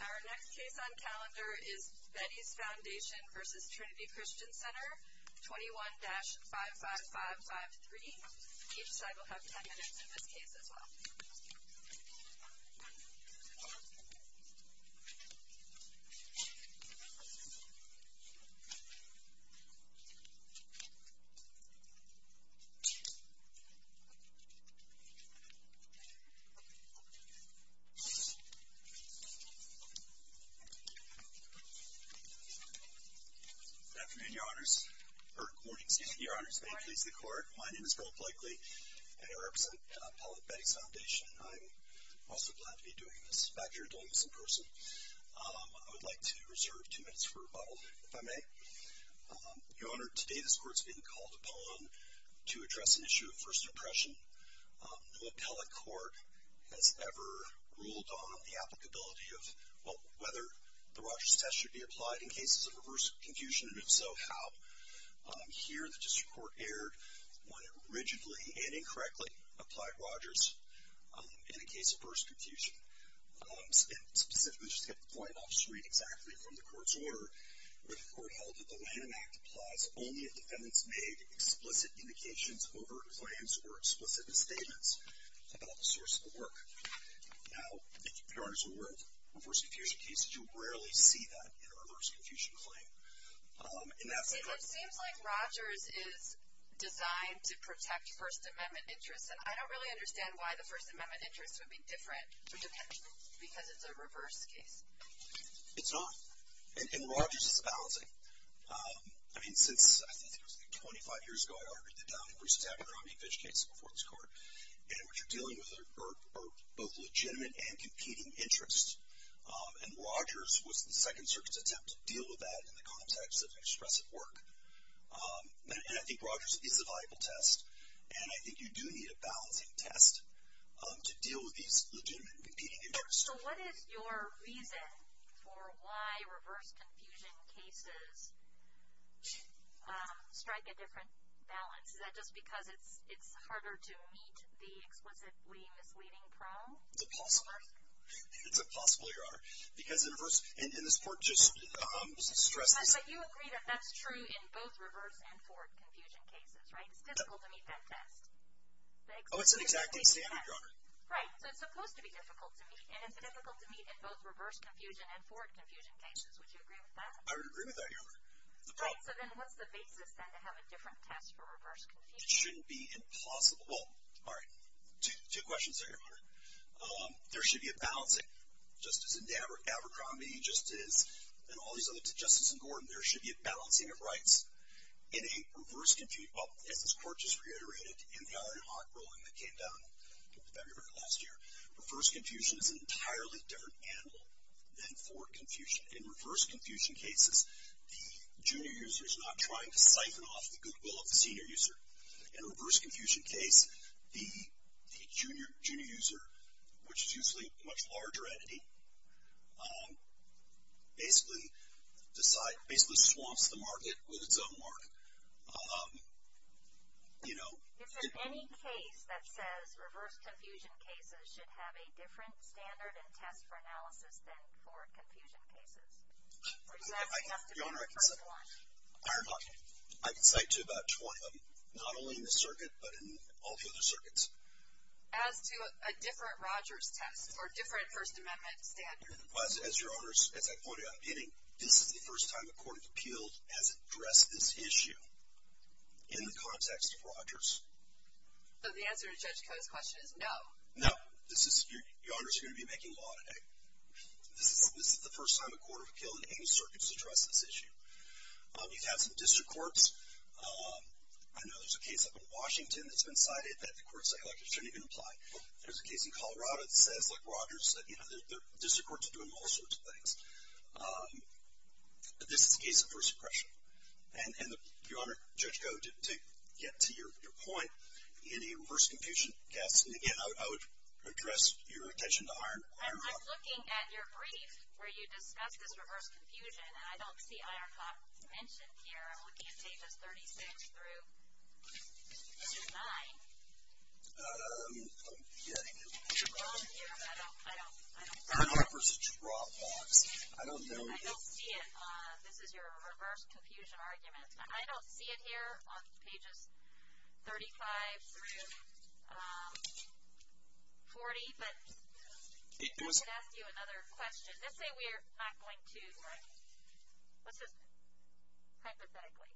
Our next case on calendar is Betty's Foundation v. Trinity Christian Center, 21-55553. Each side will have 10 minutes in this case as well. Good afternoon, Your Honors. Or, good morning, excuse me, Your Honors. May it please the Court. My name is Bill Blakely, and I represent Appellate Betty's Foundation. I'm also glad to be doing this back here doing this in person. I would like to reserve two minutes for rebuttal, if I may. Your Honor, today this Court is being called upon to address an issue of First Impression. No appellate court has ever ruled on the applicability of, well, whether the Rogers test should be applied in cases of reverse confusion, and if so, how. Here, the District Court erred when it rigidly and incorrectly applied Rogers in a case of reverse confusion. Specifically, just to get the point, I'll just read exactly from the Court's order. The Court held that the Lanham Act applies only if defendants made explicit indications of overt claims or explicit misstatements about the source of the work. Now, Your Honors, in reverse confusion cases, you rarely see that in a reverse confusion claim. It seems like Rogers is designed to protect First Amendment interests, and I don't really understand why the First Amendment interests would be different for defendants, because it's a reverse case. It's not. In Rogers, it's a balancing. I mean, since, I think it was 25 years ago, I argued that Bruce was having a Romney-Fitch case before this Court, and what you're dealing with are both legitimate and competing interests. And Rogers was the Second Circuit's attempt to deal with that in the context of expressive work. And I think Rogers is a viable test, and I think you do need a balancing test to deal with these legitimate and competing interests. So what is your reason for why reverse confusion cases strike a different balance? Is that just because it's harder to meet the explicitly misleading prong? It's a possible, Your Honor, because in reverse, and this Court just stressed this. But you agree that that's true in both reverse and forward confusion cases, right? It's difficult to meet that test. Oh, it's an exacting standard, Your Honor. Right, so it's supposed to be difficult to meet, and it's difficult to meet in both reverse confusion and forward confusion cases. Would you agree with that? I would agree with that, Your Honor. Right, so then what's the basis, then, to have a different test for reverse confusion? It shouldn't be impossible. Well, all right, two questions there, Your Honor. There should be a balancing, just as in Abercrombie, just as in all these other, just as in Gordon, there should be a balancing of rights in a reverse confusion, Well, as this Court just reiterated in the iron and hot ruling that came down in February of last year, reverse confusion is an entirely different animal than forward confusion. In reverse confusion cases, the junior user is not trying to siphon off the goodwill of the senior user. In a reverse confusion case, the junior user, which is usually a much larger entity, basically decides, basically swamps the market with its own market, you know. Is there any case that says reverse confusion cases should have a different standard and test for analysis than forward confusion cases? Or does that have to be the first one? Your Honor, I can cite to about 20 of them, not only in this circuit, but in all the other circuits. As to a different Rogers test or different First Amendment standard? As Your Honor, as I pointed out at the beginning, this is the first time a court of appeal has addressed this issue in the context of Rogers. So the answer to Judge Koh's question is no? No. Your Honor is going to be making law today. This is the first time a court of appeal in any circuit has addressed this issue. You've had some district courts, I know there's a case up in Washington that's been cited that the court selected shouldn't even apply. There's a case in Colorado that says, like Rogers said, you know, district courts are doing all sorts of things. But this is the case of first impression. And Your Honor, Judge Koh, to get to your point, in a reverse confusion case, and again, I would address your attention to Ironhock. I'm looking at your brief where you discuss this reverse confusion, and I don't see Ironhock mentioned here. I'm looking at pages 36 through 9. I'm getting it. It's wrong here. I don't know. Ironhock was a drop box. I don't know. I don't see it. This is your reverse confusion argument. I don't see it here on pages 35 through 40. But I could ask you another question. Let's say we're not going to, let's just hypothetically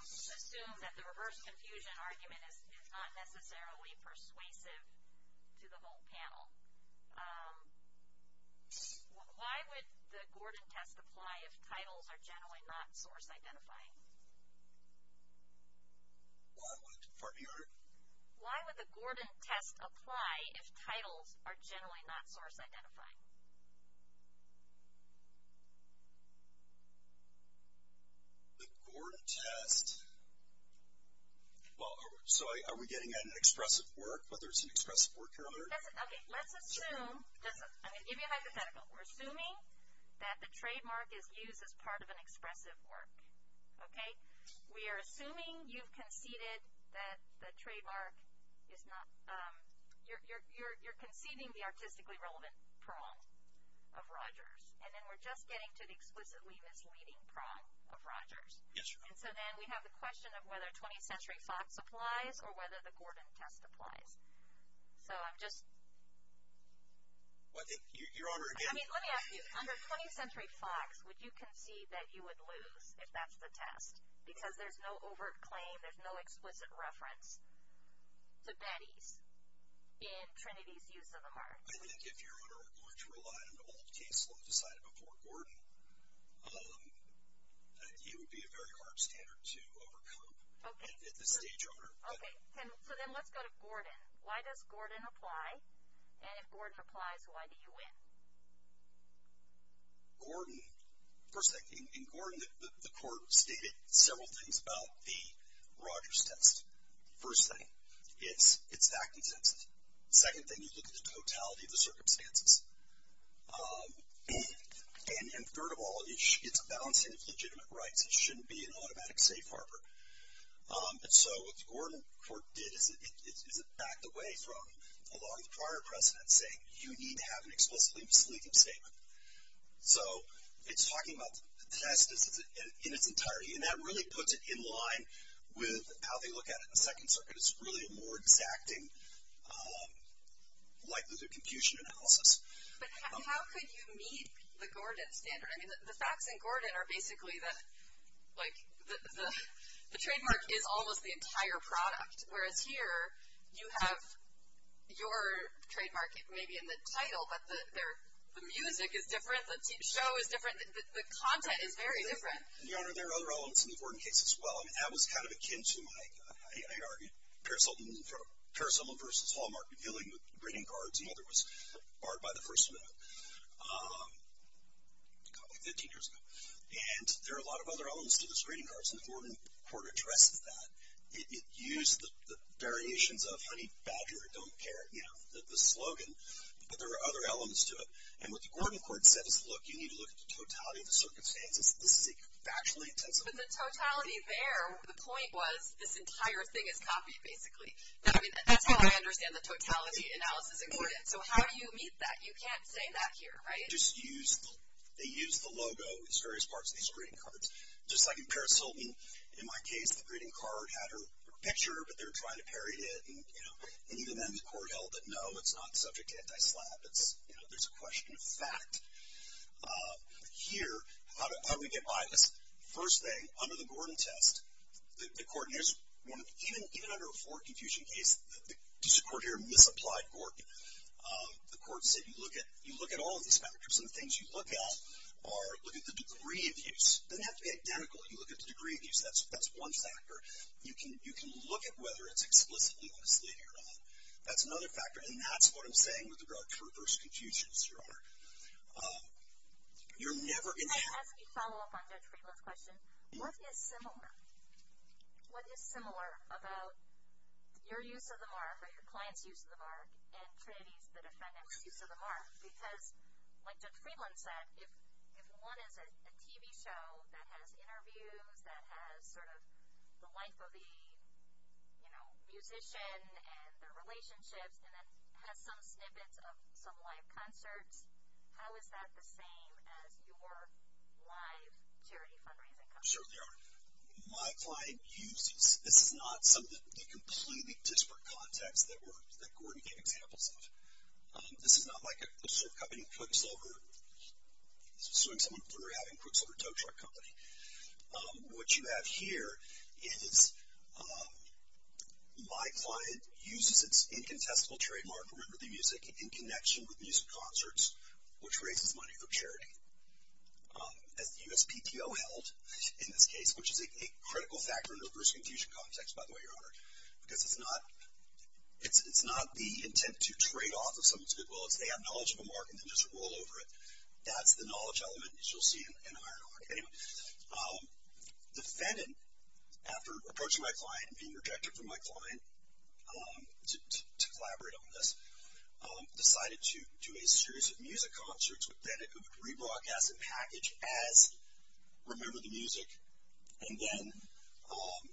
assume that the reverse confusion argument is not necessarily persuasive to the whole panel. Why would the Gordon test apply if titles are generally not source identifying? Pardon me, Your Honor? Why would the Gordon test apply if titles are generally not source identifying? The Gordon test, well, so are we getting an expressive work, whether it's an expressive work, Your Honor? Okay, let's assume, I'm going to give you a hypothetical. We're assuming that the trademark is used as part of an expressive work. Okay? We are assuming you've conceded that the trademark is not, you're conceding the artistically relevant prong of Rogers, and then we're just getting to the explicitly misleading prong of Rogers. Yes, Your Honor. And so then we have the question of whether 20th Century Fox applies or whether the Gordon test applies. So I'm just. Well, I think, Your Honor, again. I mean, let me ask you, under 20th Century Fox, would you concede that you would lose if that's the test? Because there's no overt claim, there's no exquisite reference to Betty's in Trinity's use of the mark. I think if Your Honor are going to rely on all the cases we've decided before Gordon, it would be a very hard standard to overcome if it's a stage owner. Okay, so then let's go to Gordon. Why does Gordon apply? And if Gordon applies, why do you win? Gordon. First thing, in Gordon the court stated several things about the Rogers test. First thing, it's back consensus. Second thing, you look at the totality of the circumstances. And third of all, it's a balancing of legitimate rights. It shouldn't be an automatic safe harbor. And so what the Gordon court did is it backed away from a lot of the prior precedents saying you need to have an explicitly misleading statement. So it's talking about the test in its entirety. And that really puts it in line with how they look at it in the Second Circuit. It's really a more exacting likelihood of confusion analysis. But how could you meet the Gordon standard? I mean, the facts in Gordon are basically that, like, the trademark is almost the entire product. Whereas here you have your trademark maybe in the title, but the music is different. The show is different. The content is very different. Your Honor, there are other elements in the Gordon case as well. I mean, that was kind of akin to my, I argue, Paris Hilton versus Hallmark revealing the greeting cards. The other was barred by the First Amendment, probably 15 years ago. And there are a lot of other elements to those greeting cards. And the Gordon court addresses that. It used the variations of honey badger, don't care, you know, the slogan. But there are other elements to it. And what the Gordon court said is, look, you need to look at the totality of the circumstances. This is a factually intensive case. But the totality there, the point was, this entire thing is copied, basically. I mean, that's how I understand the totality analysis in Gordon. So how do you meet that? You can't say that here, right? They used the logo as various parts of these greeting cards. Just like in Paris Hilton, in my case, the greeting card had her picture, but they were trying to parry it. And, you know, even then the court held that, no, it's not subject to anti-slap. It's, you know, there's a question of fact. Here, how do we get by this? First thing, under the Gordon test, the court, and there's one, even under a Ford-Confucian case, the court here misapplied Gordon. The court said, you look at all of these factors. And the things you look at are, look at the degree of use. It doesn't have to be identical. You look at the degree of use. That's one factor. You can look at whether it's explicitly misleading or not. That's another factor. And that's what I'm saying with regard to reverse confusions, Your Honor. You're never going to have. Can I ask a follow-up on Judge Friedland's question? What is similar? What is similar about your use of the mark or your client's use of the mark and Trinity's, the defendant's, use of the mark? Because, like Judge Friedland said, if one is a TV show that has interviews, that has sort of the life of the, you know, musician and their relationships and then has some snippets of some live concerts, how is that the same as your live charity fundraising company? Certainly, Your Honor. My client uses. This is not some of the completely disparate contacts that Gordon gave examples of. This is not like a quicksilver company, quicksilver. I'm assuming someone put her out in quicksilver tow truck company. What you have here is my client uses its incontestable trademark, remember the music, in connection with music concerts, which raises money for charity. As the USPTO held in this case, which is a critical factor in a reverse confusion context, by the way, Your Honor, because it's not the intent to trade off of someone's goodwill. It's they have knowledge of a mark and then just roll over it. That's the knowledge element as you'll see in Ironhawk. Anyway, the Fenton, after approaching my client and being rejected from my client to collaborate on this, decided to do a series of music concerts with Fenton who would rebroadcast a package as remember the music and then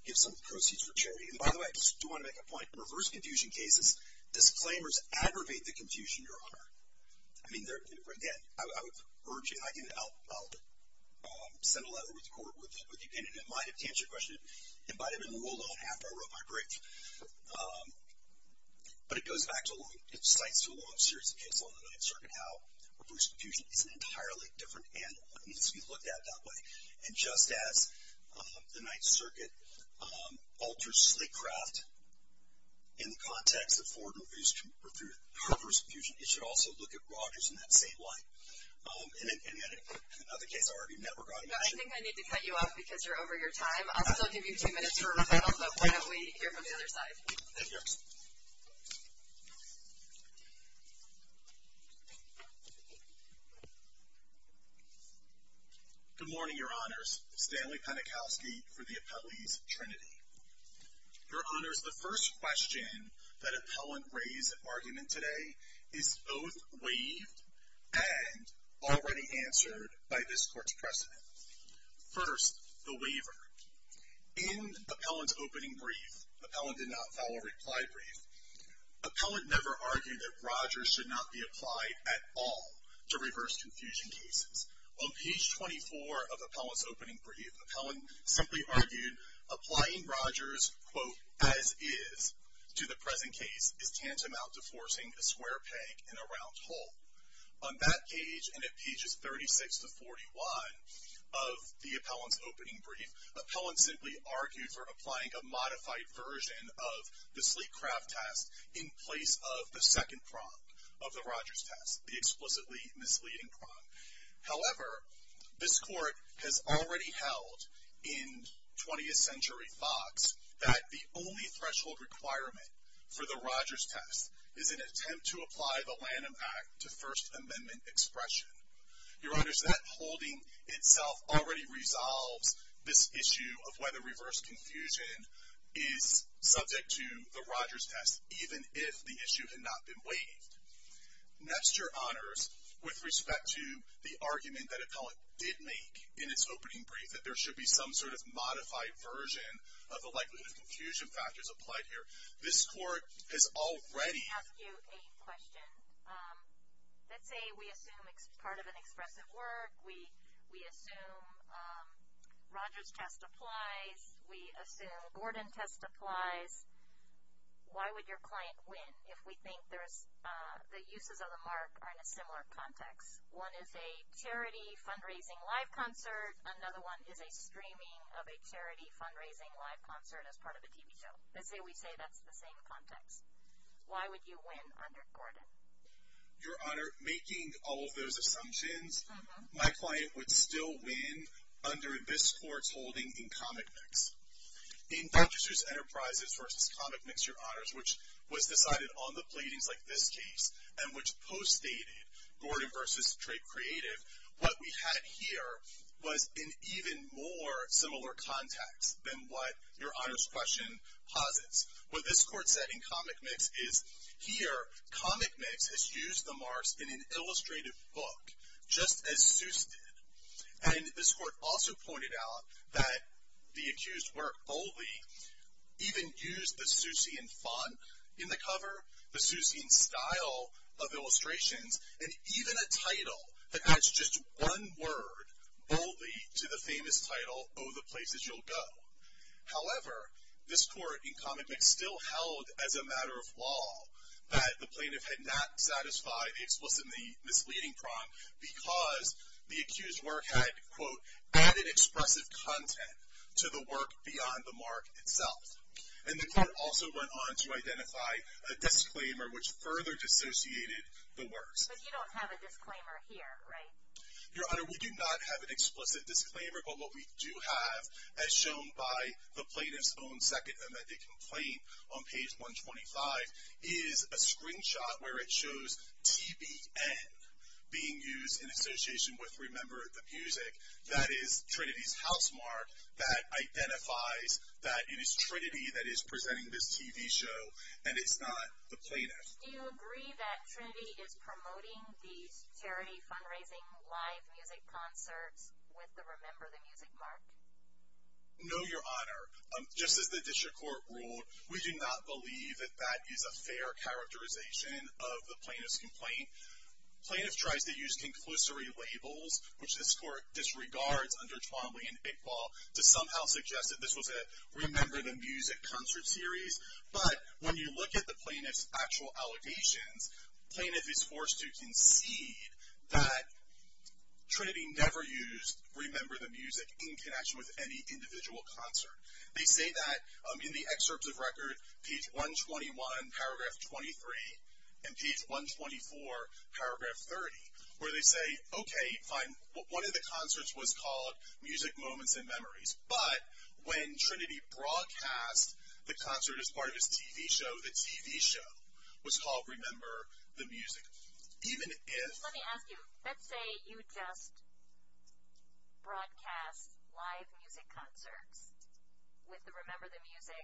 give some proceeds for charity. And by the way, I just do want to make a point. I mean, again, I would urge you, and I'll send a letter to the court with you, and it might have answered your question. It might have been ruled on after I wrote my brief. But it goes back to a long, it cites to a long series of cases on the Ninth Circuit how reverse confusion is an entirely different animal. It needs to be looked at that way. And just as the Ninth Circuit alters slave craft in the context of forward reverse confusion, it should also look at Rogers in that same light. And yet another case already never got an issue. I think I need to cut you off because you're over your time. I'll still give you two minutes for a rebuttal, but why don't we hear from the other side. Thank you. Good morning, Your Honors. Stanley Penikowski for the Appellees Trinity. Your Honors, the first question that appellant raised at argument today is both waived and already answered by this court's precedent. First, the waiver. In appellant's opening brief, appellant did not file a reply brief, appellant never argued that Rogers should not be applied at all to reverse confusion cases. On page 24 of appellant's opening brief, appellant simply argued applying Rogers, quote, as is to the present case is tantamount to forcing a square peg in a round hole. On that page and at pages 36 to 41 of the appellant's opening brief, appellant simply argued for applying a modified version of the slave craft test in place of the second prong of the Rogers test, the explicitly misleading prong. However, this court has already held in 20th Century Fox that the only threshold requirement for the Rogers test is an attempt to apply the Lanham Act to First Amendment expression. Your Honors, that holding itself already resolves this issue of whether reverse confusion is subject to the Rogers test, even if the issue had not been waived. Next, Your Honors, with respect to the argument that appellant did make in its opening brief that there should be some sort of modified version of the likelihood of confusion factors applied here, this court has already. Let me ask you a question. Let's say we assume it's part of an expressive work. We assume Rogers test applies. We assume Gordon test applies. Why would your client win if we think the uses of the mark are in a similar context? One is a charity fundraising live concert. Another one is a streaming of a charity fundraising live concert as part of a TV show. Let's say we say that's the same context. Why would you win under Gordon? Your Honor, making all of those assumptions, my client would still win under this court's holding in comic mix. In Dr. Seuss Enterprises v. Comic Mix, Your Honors, which was decided on the pleadings like this case and which postdated Gordon v. Trey Creative, what we had here was in even more similar context than what Your Honors' question posits. What this court said in Comic Mix is here, Comic Mix has used the marks in an illustrated book just as Seuss did. This court also pointed out that the accused work boldly even used the Seussian font in the cover, the Seussian style of illustrations, and even a title that adds just one word boldly to the famous title, Oh, the Places You'll Go. However, this court in Comic Mix still held as a matter of law that the plaintiff had not satisfied explicitly in the misleading prompt because the accused work had, quote, added expressive content to the work beyond the mark itself. And the court also went on to identify a disclaimer which further dissociated the words. But you don't have a disclaimer here, right? Your Honor, we do not have an explicit disclaimer, but what we do have, as shown by the plaintiff's own second amendment complaint on page 125, is a screenshot where it shows TBN being used in association with Remember the Music. That is Trinity's housemark that identifies that it is Trinity that is presenting this TV show, and it's not the plaintiff. Do you agree that Trinity is promoting these charity fundraising live music concerts with the Remember the Music mark? No, Your Honor. Just as the district court ruled, we do not believe that that is a fair characterization of the plaintiff's complaint. Plaintiff tries to use conclusory labels, which this court disregards under Twombly and Iqbal, to somehow suggest that this was a Remember the Music concert series. But when you look at the plaintiff's actual allegations, plaintiff is forced to concede that Trinity never used Remember the Music in connection with any individual concert. They say that in the excerpts of record, page 121, paragraph 23, and page 124, paragraph 30, where they say, okay, fine, one of the concerts was called Music, Moments, and Memories, but when Trinity broadcast the concert as part of its TV show, the TV show, was called Remember the Music. Let me ask you. Let's say you just broadcast live music concerts with the Remember the Music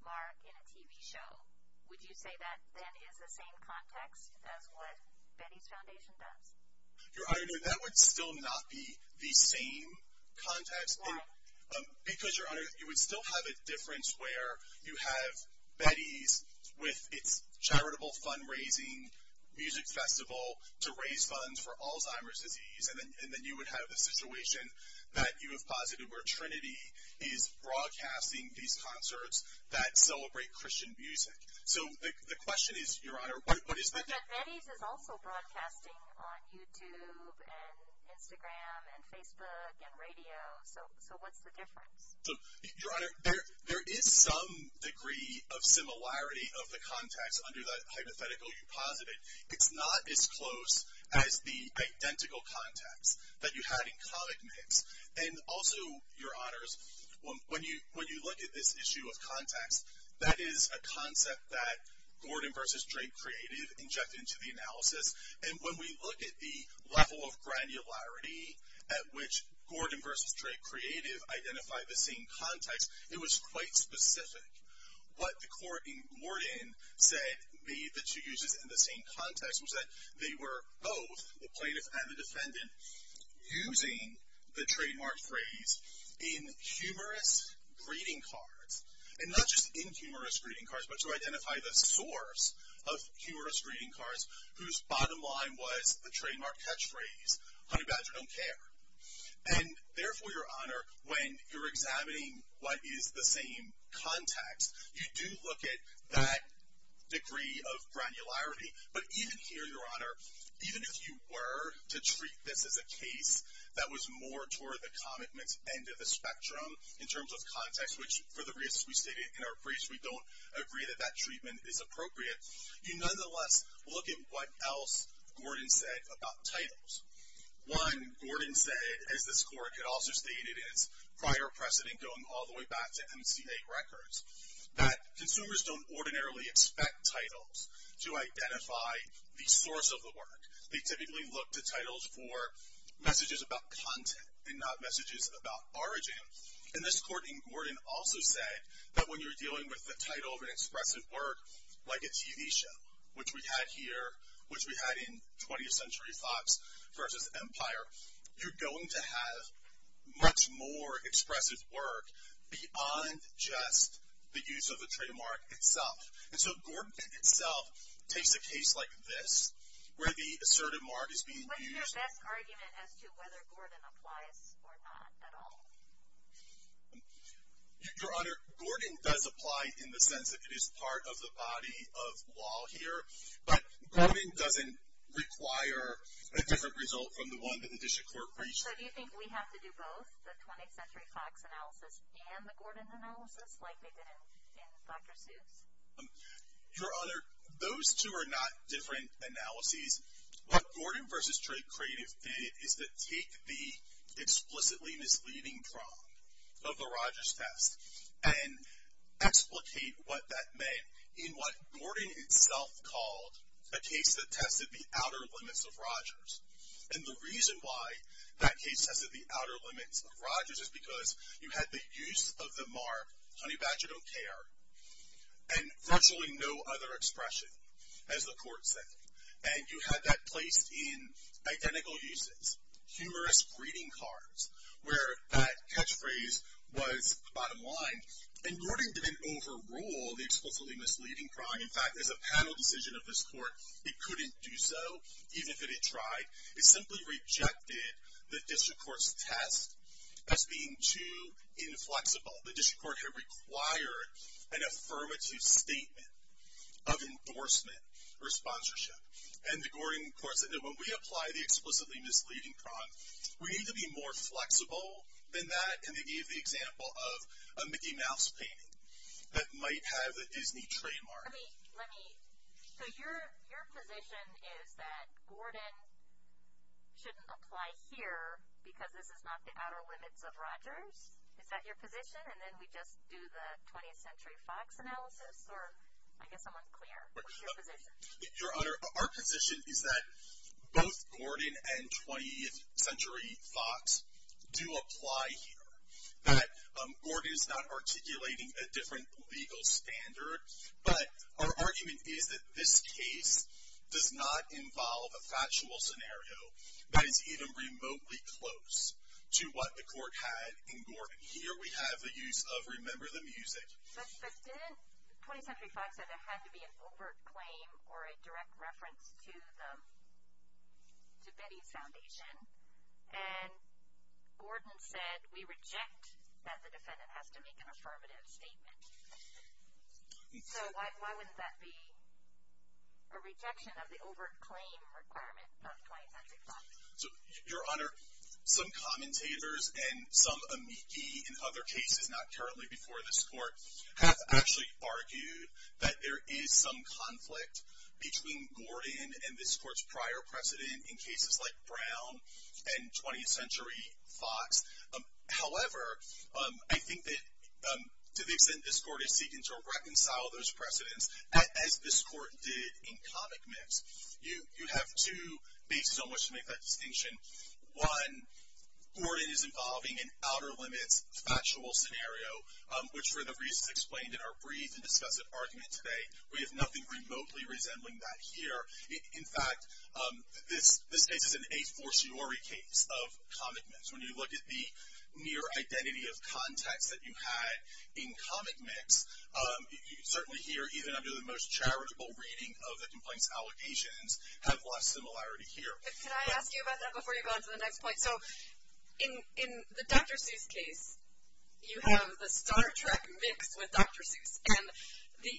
mark in a TV show. Would you say that then is the same context as what Betty's Foundation does? Your Honor, no, that would still not be the same context. Why? Because, Your Honor, you would still have a difference where you have Betty's with its charitable fundraising music festival to raise funds for Alzheimer's disease, and then you would have a situation that you have posited where Trinity is broadcasting these concerts that celebrate Christian music. So the question is, Your Honor, what is the difference? But Betty's is also broadcasting on YouTube and Instagram and Facebook and radio, so what's the difference? Your Honor, there is some degree of similarity of the context under the hypothetical you posited. It's not as close as the identical context that you had in Comic Mix. And also, Your Honors, when you look at this issue of context, that is a concept that Gordon v. Drake Creative injected into the analysis, and when we look at the level of granularity at which Gordon v. Drake Creative identified the same context, it was quite specific. What the court in Gordon said made the two uses in the same context was that they were both, the plaintiff and the defendant, using the trademark phrase in humorous greeting cards, and not just in humorous greeting cards, but to identify the source of humorous greeting cards whose bottom line was the trademark catchphrase, honey badger don't care. And therefore, Your Honor, when you're examining what is the same context, you do look at that degree of granularity, but even here, Your Honor, even if you were to treat this as a case that was more toward the Comic Mix end of the spectrum in terms of context, which for the reasons we stated in our briefs, we don't agree that that treatment is appropriate, you nonetheless look at what else Gordon said about titles. One, Gordon said, as this court had also stated in its prior precedent going all the way back to MCA records, that consumers don't ordinarily expect titles to identify the source of the work. They typically look to titles for messages about content and not messages about origin. And this court in Gordon also said that when you're dealing with the title of an expressive work, like a TV show, which we had here, which we had in 20th Century Fox versus Empire, you're going to have much more expressive work beyond just the use of the trademark itself. And so Gordon itself takes a case like this, where the assertive mark is being used. What's your best argument as to whether Gordon applies or not at all? Your Honor, Gordon does apply in the sense that it is part of the body of law here, but Gordon doesn't require a different result from the one that the district court reached. So do you think we have to do both, the 20th Century Fox analysis and the Gordon analysis, like they did in Dr. Seuss? Your Honor, those two are not different analyses. What Gordon versus Trey Creative did is to take the explicitly misleading prompt of the Rogers test and explicate what that meant in what Gordon itself called a case that tested the outer limits of Rogers. And the reason why that case tested the outer limits of Rogers is because you had the use of the mark, honey badger don't care, and virtually no other expression, as the court said. And you had that placed in identical uses, humorous greeting cards, where that catchphrase was bottom line. And Gordon didn't overrule the explicitly misleading prompt. In fact, as a panel decision of this court, it couldn't do so, even if it had tried. It simply rejected the district court's test as being too inflexible. The district court had required an affirmative statement of endorsement or sponsorship. And the Gordon court said, no, when we apply the explicitly misleading prompt, we need to be more flexible than that. And they gave the example of a Mickey Mouse painting that might have the Disney trademark. Let me, so your position is that Gordon shouldn't apply here because this is not the outer limits of Rogers? Is that your position? And then we just do the 20th Century Fox analysis? Or I guess I'm unclear. What's your position? Your Honor, our position is that both Gordon and 20th Century Fox do apply here. That Gordon is not articulating a different legal standard. But our argument is that this case does not involve a factual scenario that is even remotely close to what the court had in Gordon. Here we have the use of remember the music. But didn't 20th Century Fox say there had to be an overt claim or a direct reference to Betty's Foundation? And Gordon said we reject that the defendant has to make an affirmative statement. So why wouldn't that be a rejection of the overt claim requirement of 20th Century Fox? Your Honor, some commentators and some amici in other cases, not currently before this court, have actually argued that there is some conflict between Gordon and this court's prior precedent in cases like Brown and 20th Century Fox. However, I think that to the extent this court is seeking to reconcile those precedents, as this court did in Comic Mix, you have two bases on which to make that distinction. One, Gordon is involving an outer limits factual scenario, which for the reasons explained in our brief and discussive argument today, we have nothing remotely resembling that here. In fact, this case is an a-fortiori case of Comic Mix. When you look at the near identity of context that you had in Comic Mix, certainly here, even under the most charitable reading of the complaints allegations, have less similarity here. Can I ask you about that before you go on to the next point? So in the Dr. Seuss case, you have the Star Trek mixed with Dr. Seuss. And the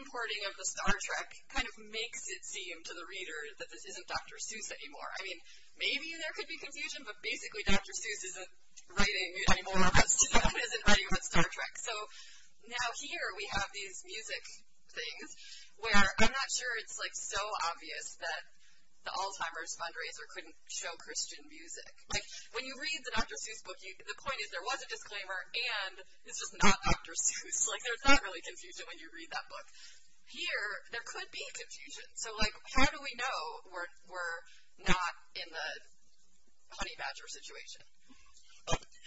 importing of the Star Trek kind of makes it seem to the reader that this isn't Dr. Seuss anymore. I mean, maybe there could be confusion, but basically Dr. Seuss isn't writing anymore about Star Trek. So now here we have these music things where I'm not sure it's so obvious that the Alzheimer's fundraiser couldn't show Christian music. When you read the Dr. Seuss book, the point is there was a disclaimer and it's just not Dr. Seuss. There's not really confusion when you read that book. Here, there could be confusion. So how do we know we're not in the Honey Badger situation?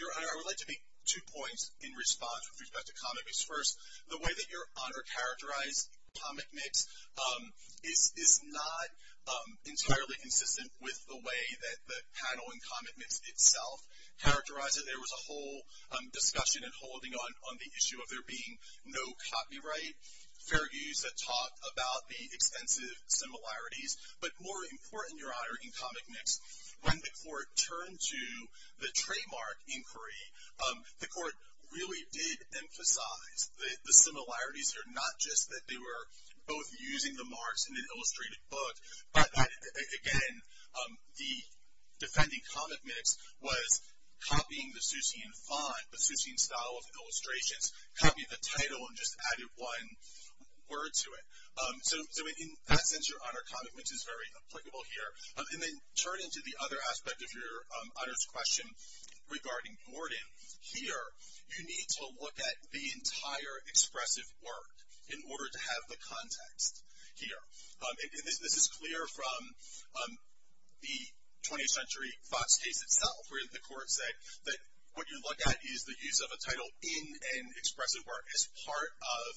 Your Honor, I would like to make two points in response with respect to Comic Mix. First, the way that Your Honor characterized Comic Mix is not entirely consistent with the way that the panel in Comic Mix itself characterized it. There was a whole discussion and holding on the issue of there being no copyright fair use that talked about the extensive similarities. But more important, Your Honor, in Comic Mix, when the court turned to the trademark inquiry, the court really did emphasize the similarities are not just that they were both using the marks in an illustrated book, but that, again, the defending Comic Mix was copying the Seussian font, the Seussian style of illustrations, copying the title and just adding one word to it. So in that sense, Your Honor, Comic Mix is very applicable here. And then turning to the other aspect of Your Honor's question regarding Gordon, here you need to look at the entire expressive work in order to have the context here. And this is clear from the 20th Century Fox case itself where the court said that what you look at is the use of a title in an expressive work as part of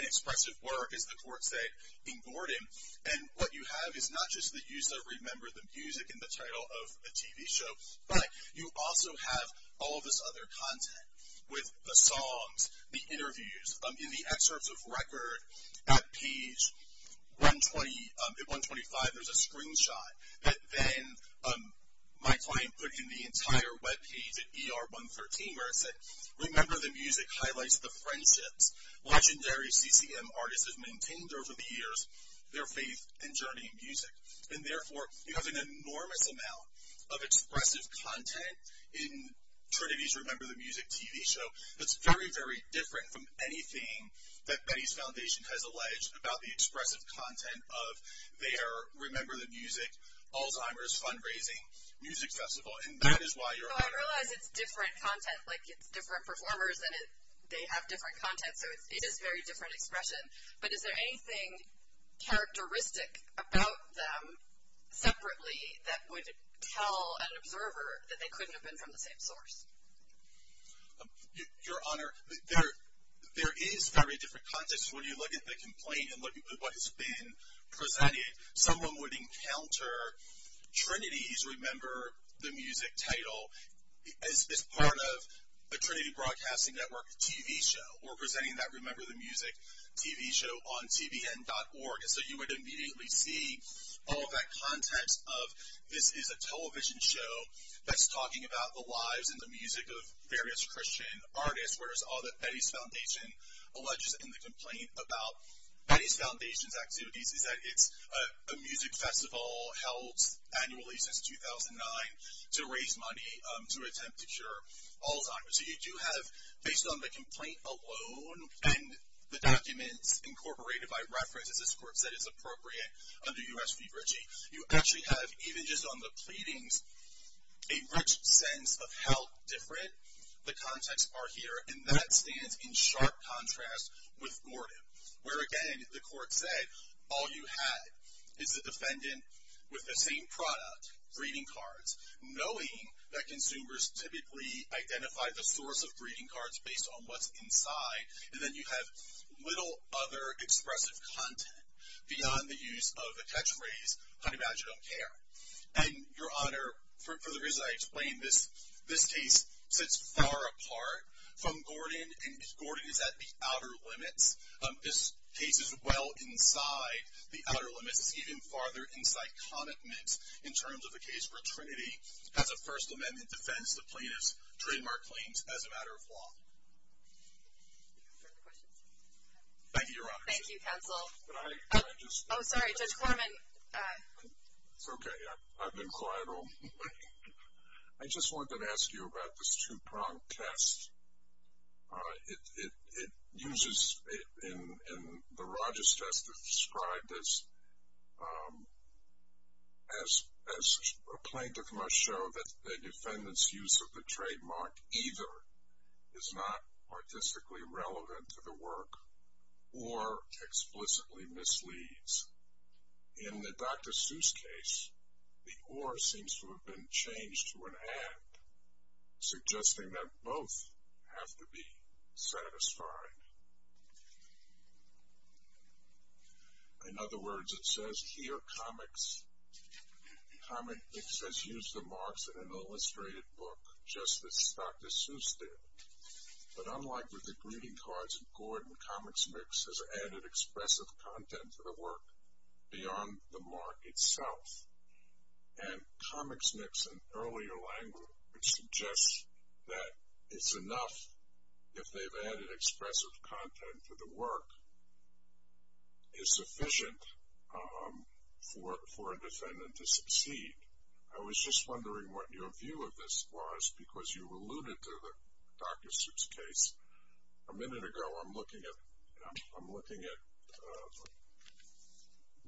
an expressive work, as the court said, in Gordon. And what you have is not just the use of Remember the Music in the title of a TV show, but you also have all of this other content with the songs, the interviews. In the excerpts of record at page 125, there's a screenshot that then my client put in the entire webpage at ER 113 where it said, Remember the Music highlights the friendships legendary CCM artists have maintained over the years, their faith and journey in music. And therefore, you have an enormous amount of expressive content in Trinity's Remember the Music TV show that's very, very different from anything that Betty's Foundation has alleged about the expressive content of their Remember the Music Alzheimer's Fundraising Music Festival. And that is why Your Honor. Well, I realize it's different content. Like, it's different performers and they have different content. So it is very different expression. But is there anything characteristic about them separately that would tell an observer that they couldn't have been from the same source? Your Honor, there is very different context when you look at the complaint and look at what has been presented. Someone would encounter Trinity's Remember the Music title as part of a Trinity Broadcasting Network TV show. We're presenting that Remember the Music TV show on TVN.org. And so you would immediately see all of that context of this is a television show that's talking about the lives and the music of various Christian artists, whereas all that Betty's Foundation alleges in the complaint about Betty's Foundation's activities is that it's a music festival held annually since 2009 to raise money to attempt to cure Alzheimer's. So you do have, based on the complaint alone and the documents incorporated by reference, as this court said is appropriate under U.S. v. Ritchie, you actually have, even just on the pleadings, a rich sense of how different the contexts are here. And that stands in sharp contrast with Gordon, where, again, the court said all you had is the defendant with the same product, greeting cards, knowing that consumers typically identify the source of greeting cards based on what's inside. And then you have little other expressive content beyond the use of a catchphrase, honey badger don't care. And, Your Honor, for the reason I explained, this case sits far apart from Gordon, and Gordon is at the outer limits. This case is well inside the outer limits. It's even farther inside connotments in terms of a case where Trinity has a First Amendment defense. The plaintiffs trademark claims as a matter of law. Thank you, Your Honor. Thank you, counsel. Oh, sorry, Judge Korman. It's okay. I've been quiet all morning. I just wanted to ask you about this two-prong test. It uses, in the Rogers test, it's described as a plaintiff must show that the defendant's use of the trademark either is not artistically relevant to the work or explicitly misleads. In the Dr. Seuss case, the or seems to have been changed to an and, suggesting that both have to be satisfied. In other words, it says here comics has used the marks in an illustrated book, just as Dr. Seuss did. But unlike with the greeting cards in Gordon, Comics Mix has added expressive content to the work beyond the mark itself. And Comics Mix, in earlier language, suggests that it's enough if they've added expressive content to the work. It's sufficient for a defendant to succeed. I was just wondering what your view of this was, because you alluded to the Dr. Seuss case. A minute ago, I'm looking at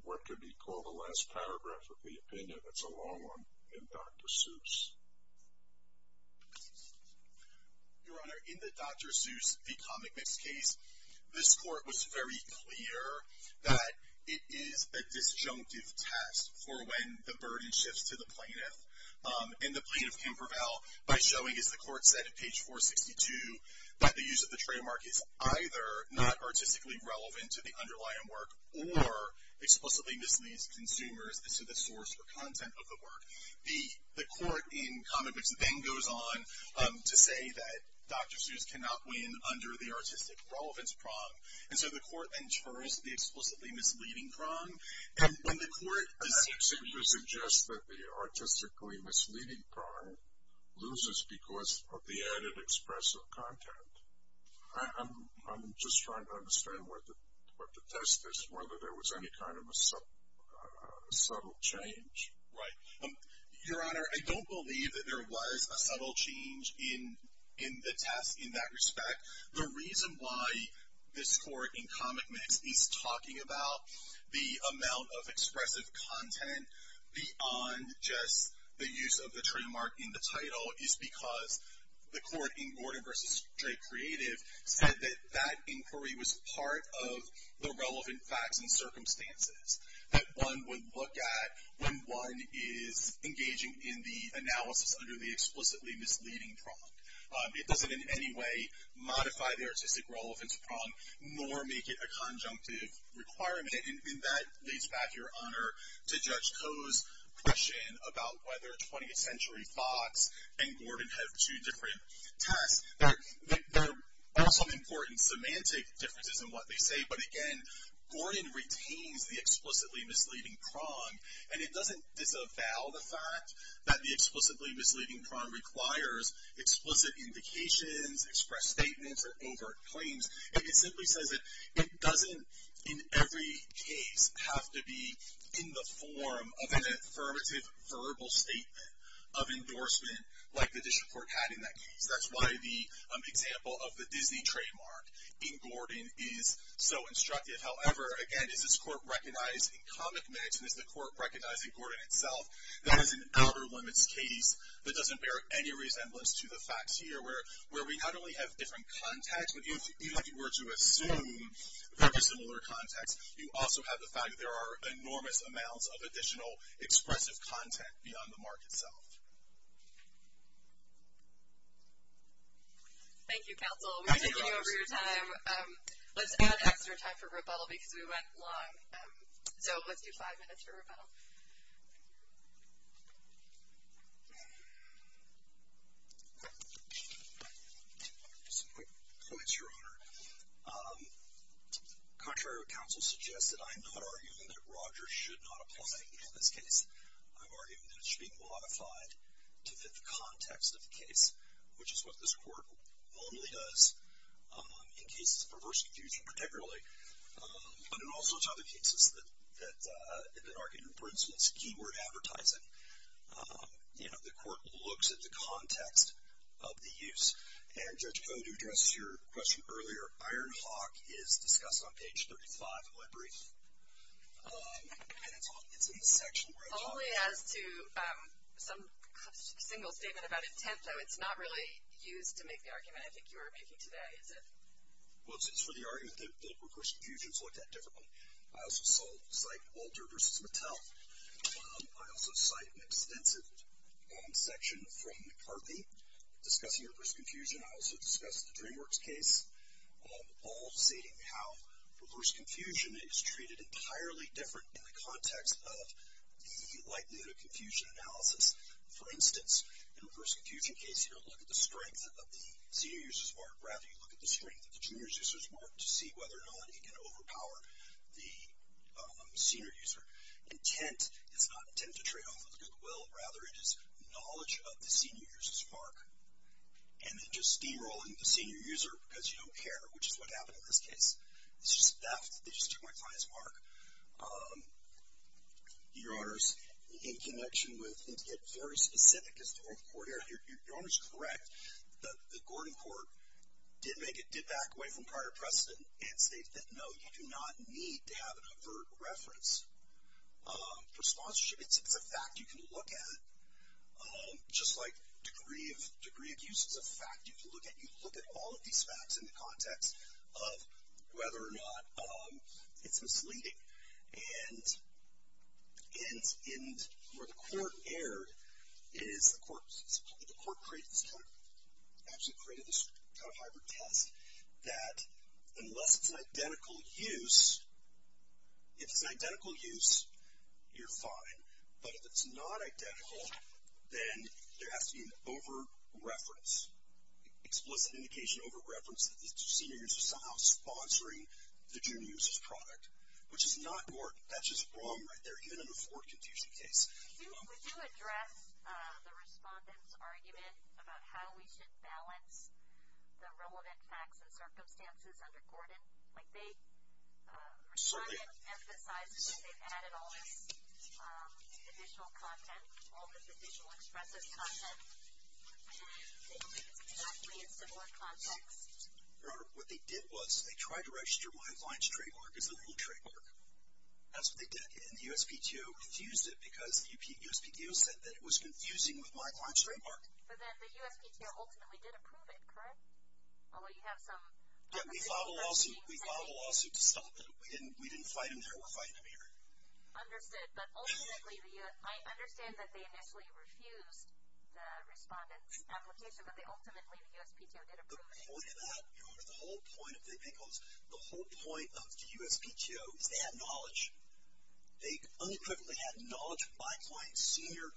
what could be called the last paragraph of the opinion. That's a long one. In Dr. Seuss. Your Honor, in the Dr. Seuss v. Comics Mix case, this court was very clear that it is a disjunctive test for when the burden shifts to the plaintiff. And the plaintiff can prevail by showing, as the court said at page 462, that the use of the trademark is either not artistically relevant to the underlying work or explicitly misleads consumers as to the source or content of the work. The court in Comics Mix then goes on to say that Dr. Seuss cannot win under the artistic relevance prong. And so the court then turns to the explicitly misleading prong. And when the court assumes or suggests that the artistically misleading prong loses because of the added expressive content, I'm just trying to understand what the test is, whether there was any kind of a subtle change. Right. Your Honor, I don't believe that there was a subtle change in the test in that respect. The reason why this court in Comics Mix is talking about the amount of expressive content beyond just the use of the trademark in the title is because the court in Gordon v. Stray Creative said that that inquiry was part of the relevant facts and circumstances that one would look at when one is engaging in the analysis under the explicitly misleading prong. It doesn't in any way modify the artistic relevance prong nor make it a conjunctive requirement. And that leads back, Your Honor, to Judge Koh's question about whether 20th Century Fox and Gordon have two different tests. There are some important semantic differences in what they say, but again Gordon retains the explicitly misleading prong. And it doesn't disavow the fact that the explicitly misleading prong requires explicit indications, express statements, or overt claims. It simply says that it doesn't in every case have to be in the form of an affirmative verbal statement of endorsement like the district court had in that case. That's why the example of the Disney trademark in Gordon is so instructive. However, again, is this court recognized in comic minutes and is the court recognizing Gordon itself? That is an outer limits case that doesn't bear any resemblance to the facts here where we not only have different context, but even if you were to assume very similar context, you also have the fact that there are enormous amounts of additional expressive content beyond the mark itself. Thank you, counsel. We're taking over your time. Let's add extra time for rebuttal because we went long. So let's do five minutes for rebuttal. Just a quick comment, Your Honor. Contrary to what counsel suggested, I am not arguing that Rogers should not apply in this case. I'm arguing that it should be modified to fit the context of the case, which is what this court only does in cases of perverse confusion particularly, but in all sorts of other cases that argue, for instance, keyword advertising. You know, the court looks at the context of the use, and Judge Codd, who addressed your question earlier, Iron Hawk is discussed on page 35 of my brief, and it's in the section where it's on. Only as to some single statement about intent, though it's not really used to make the argument I think you were making today, is it? Well, it's for the argument that perverse confusion is looked at differently. I also cite Walter v. Mattel. I also cite an extensive section from McCarthy discussing perverse confusion. I also discuss the DreamWorks case, all stating how perverse confusion is treated entirely different in the context of the likelihood of confusion analysis. For instance, in a perverse confusion case, you don't look at the strength of the senior user's mark. Rather, you look at the strength of the junior user's mark to see whether or not it can overpower the senior user. Intent is not intent to trade off with goodwill. Rather, it is knowledge of the senior user's mark. And then just derolling the senior user because you don't care, which is what happened in this case. It's just theft. They just took my client's mark. Your honors, in connection with, and to get very specific, because the court earlier, your honors are correct, the Gordon court did make it, did back away from prior precedent and state that no, you do not need to have an overt reference. For sponsorship, it's a fact you can look at. Just like degree of use is a fact you can look at. You can look at all of these facts in the context of whether or not it's misleading. And where the court erred is the court created this kind of hybrid test that unless it's an identical use, if it's an identical use, you're fine. But if it's not identical, then there has to be an over-reference, explicit indication over-reference that the senior user is somehow sponsoring the junior user's product, which is not Gordon. That's just wrong right there, even in the Ford confusion case. Would you address the respondent's argument about how we should balance the relevant facts and circumstances under Gordon? The respondent emphasizes that they've added all this additional content, all this additional expressive content, and they don't think it's exactly in similar context. Your honor, what they did was they tried to register my client's trademark as a legal trademark. That's what they did, and the USPTO refused it because the USPTO said that it was confusing with my client's trademark. But then the USPTO ultimately did approve it, correct? We filed a lawsuit to stop them. We didn't fight them there. We're fighting them here. Understood. But ultimately, I understand that they initially refused the respondent's application, but ultimately the USPTO did approve it. The whole point of the USPTO is they had knowledge. They unequivocally had knowledge of my client's senior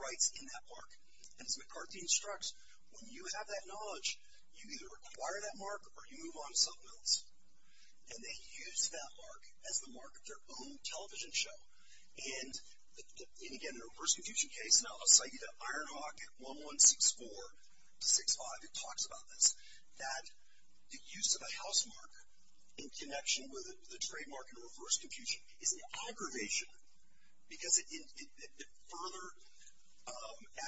rights in that park, and as McCarthy instructs, when you have that knowledge, you either acquire that mark or you move on to something else. And they used that mark as the mark of their own television show. And, again, in a reverse confusion case, now, Saida Ironhawk at 1164-65 talks about this, that the use of a house mark in connection with the trademark in reverse confusion is an aggravation because it further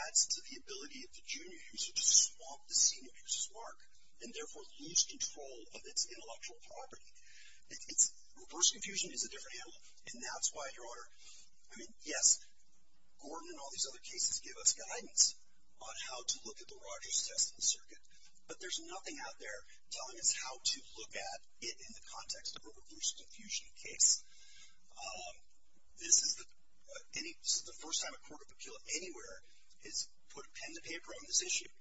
adds to the ability of the junior user to swamp the senior user's mark and therefore lose control of its intellectual property. Reverse confusion is a different animal, and that's why, Your Honor, I mean, yes, Gordon and all these other cases give us guidance on how to look at the Rogers test in the circuit. But there's nothing out there telling us how to look at it in the context of a reverse confusion case. This is the first time a court of appeal anywhere has put pen to paper on this issue.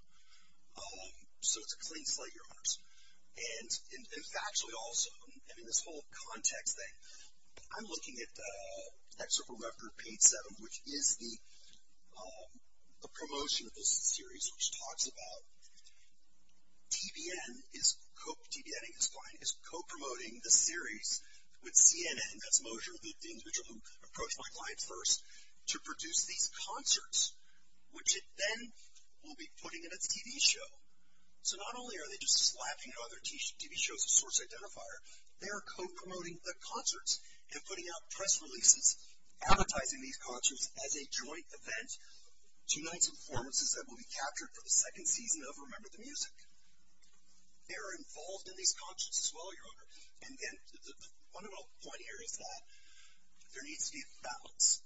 So it's a clean slate, Your Honors. And factually also, I mean, this whole context thing, I'm looking at the excerpt from Web Group Page 7, which is the promotion of this series, which talks about TBN is, co-promoting the series with CNN, that's Mosher, the individual who approached my clients first, to produce these concerts, which it then will be putting in a TV show. So not only are they just slapping other TV shows a source identifier, they are co-promoting the concerts and putting out press releases advertising these concerts as a joint event to night's performances that will be captured for the second season of Remember the Music. They are involved in these concerts as well, Your Honor. And then one little point here is that there needs to be a balance.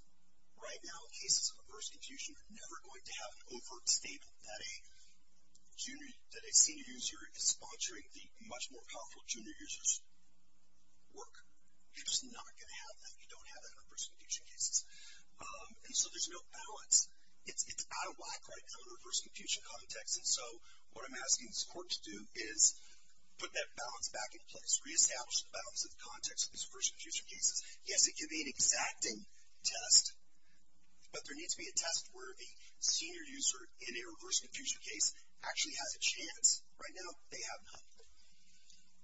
Right now, cases of reverse confusion are never going to have an overt statement that a senior user is sponsoring the much more powerful junior user's work. You're just not going to have that. You don't have that in reverse confusion cases. And so there's no balance. It's out of whack right now in a reverse confusion context. And so what I'm asking the court to do is put that balance back in place, reestablish the balance in the context of these reverse confusion cases. Yes, it can be an exacting test, but there needs to be a test where the senior user in a reverse confusion case actually has a chance. Right now, they have not.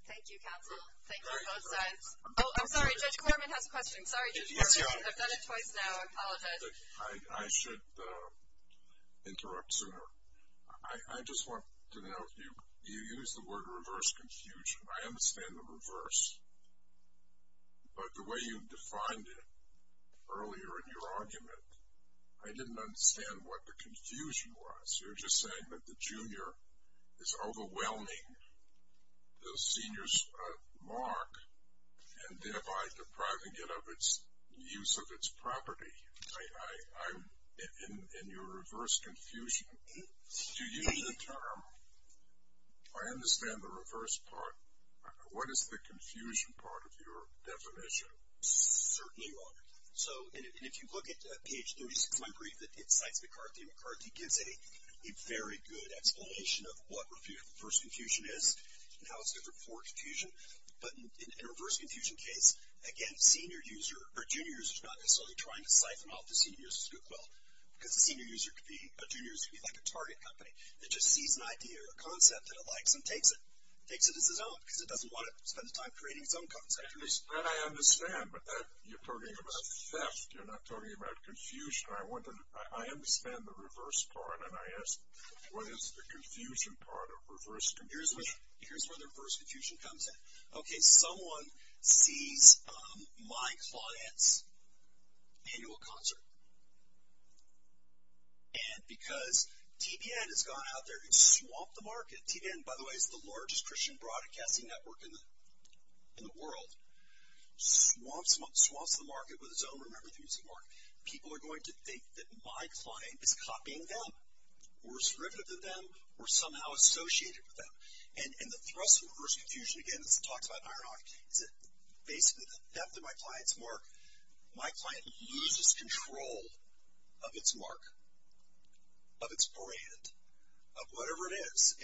Thank you, counsel. Thank you on both sides. Oh, I'm sorry. Judge Clorman has a question. Sorry, Judge Clorman. I've done it twice now. I apologize. I should interrupt sooner. I just want to know, you used the word reverse confusion. I understand the reverse. But the way you defined it earlier in your argument, I didn't understand what the confusion was. You're just saying that the junior is overwhelming the senior's mark and thereby depriving it of its use of its property. In your reverse confusion, to use the term, I understand the reverse part. What is the confusion part of your definition? Certainly wrong. And if you look at page 36 of my brief, it cites McCarthy. McCarthy gives a very good explanation of what reverse confusion is and how it's different for confusion. But in a reverse confusion case, again, senior users or junior users are not necessarily trying to siphon off the senior's scoop well. Because a junior user could be like a target company that just sees an idea or a concept that it likes and takes it. Takes it as his own because it doesn't want to spend the time creating its own concept. That I understand. But you're talking about theft. You're not talking about confusion. I understand the reverse part. And I ask, what is the confusion part of reverse confusion? Here's where the reverse confusion comes in. Okay, someone sees my client's annual concert. And because TBN has gone out there and swamped the market. TBN, by the way, is the largest Christian broadcasting network in the world. Swamps the market with its own, remember, music market. People are going to think that my client is copying them or is derivative of them or somehow associated with them. And the thrust of reverse confusion, again, as I talked about in Ironhawk, is that basically the theft of my client's mark, my client loses control of its mark, of its brand, of whatever it is.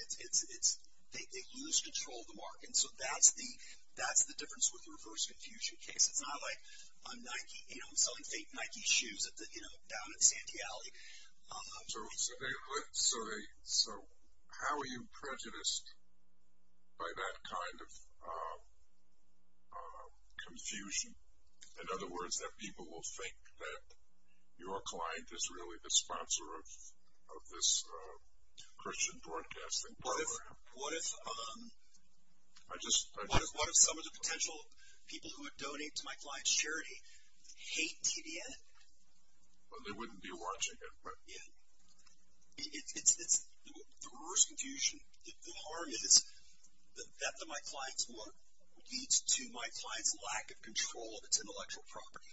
They lose control of the mark. And so that's the difference with the reverse confusion case. It's not like I'm selling fake Nike shoes down in Santee Alley. So how are you prejudiced by that kind of confusion? In other words, that people will think that your client is really the sponsor of this Christian broadcasting program? What if some of the potential people who would donate to my client's charity hate TBN? Well, they wouldn't be watching it, right? Yeah. It's the reverse confusion. The harm is the theft of my client's mark leads to my client's lack of control of its intellectual property.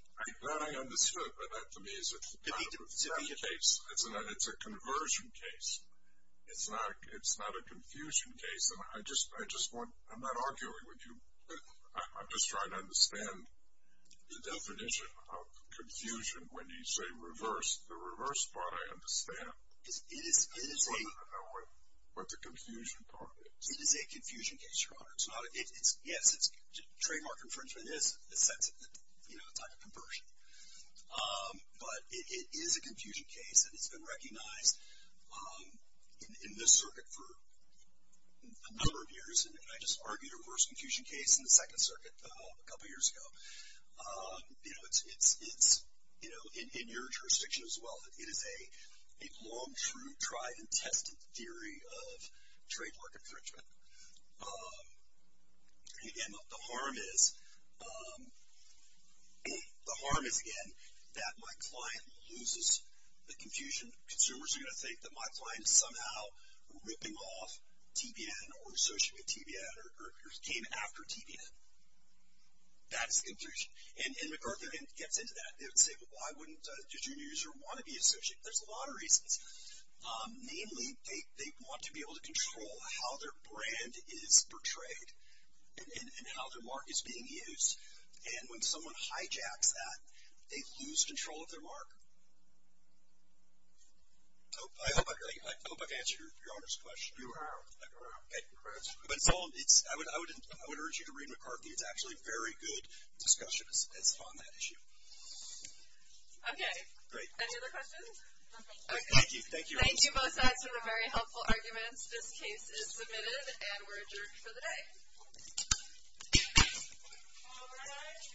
That I understand. But that to me is not the case. It's a conversion case. It's not a confusion case. And I just want to – I'm not arguing with you. I'm just trying to understand the definition of confusion when you say reverse. The reverse part I understand. It is a – I want to know what the confusion part is. It is a confusion case, Your Honor. Yes, it's trademark infringement is a type of conversion. But it is a confusion case. And it's been recognized in this circuit for a number of years. And I just argued a reverse confusion case in the Second Circuit a couple years ago. You know, it's, you know, in your jurisdiction as well. It is a long true tried and tested theory of trademark infringement. And, again, the harm is, the harm is, again, that my client loses the confusion. And consumers are going to think that my client is somehow ripping off TVN or associated with TVN or came after TVN. That is the confusion. And McArthur gets into that. They would say, well, why wouldn't a junior user want to be associated? There's a lot of reasons. Namely, they want to be able to control how their brand is portrayed and how their mark is being used. And when someone hijacks that, they lose control of their mark. I hope I've answered Your Honor's question. I would urge you to read McArthur. It's actually very good discussion on that issue. Okay. Great. Any other questions? Thank you. Thank you both sides for the very helpful arguments. This case is submitted and we're adjourned for the day. All rise.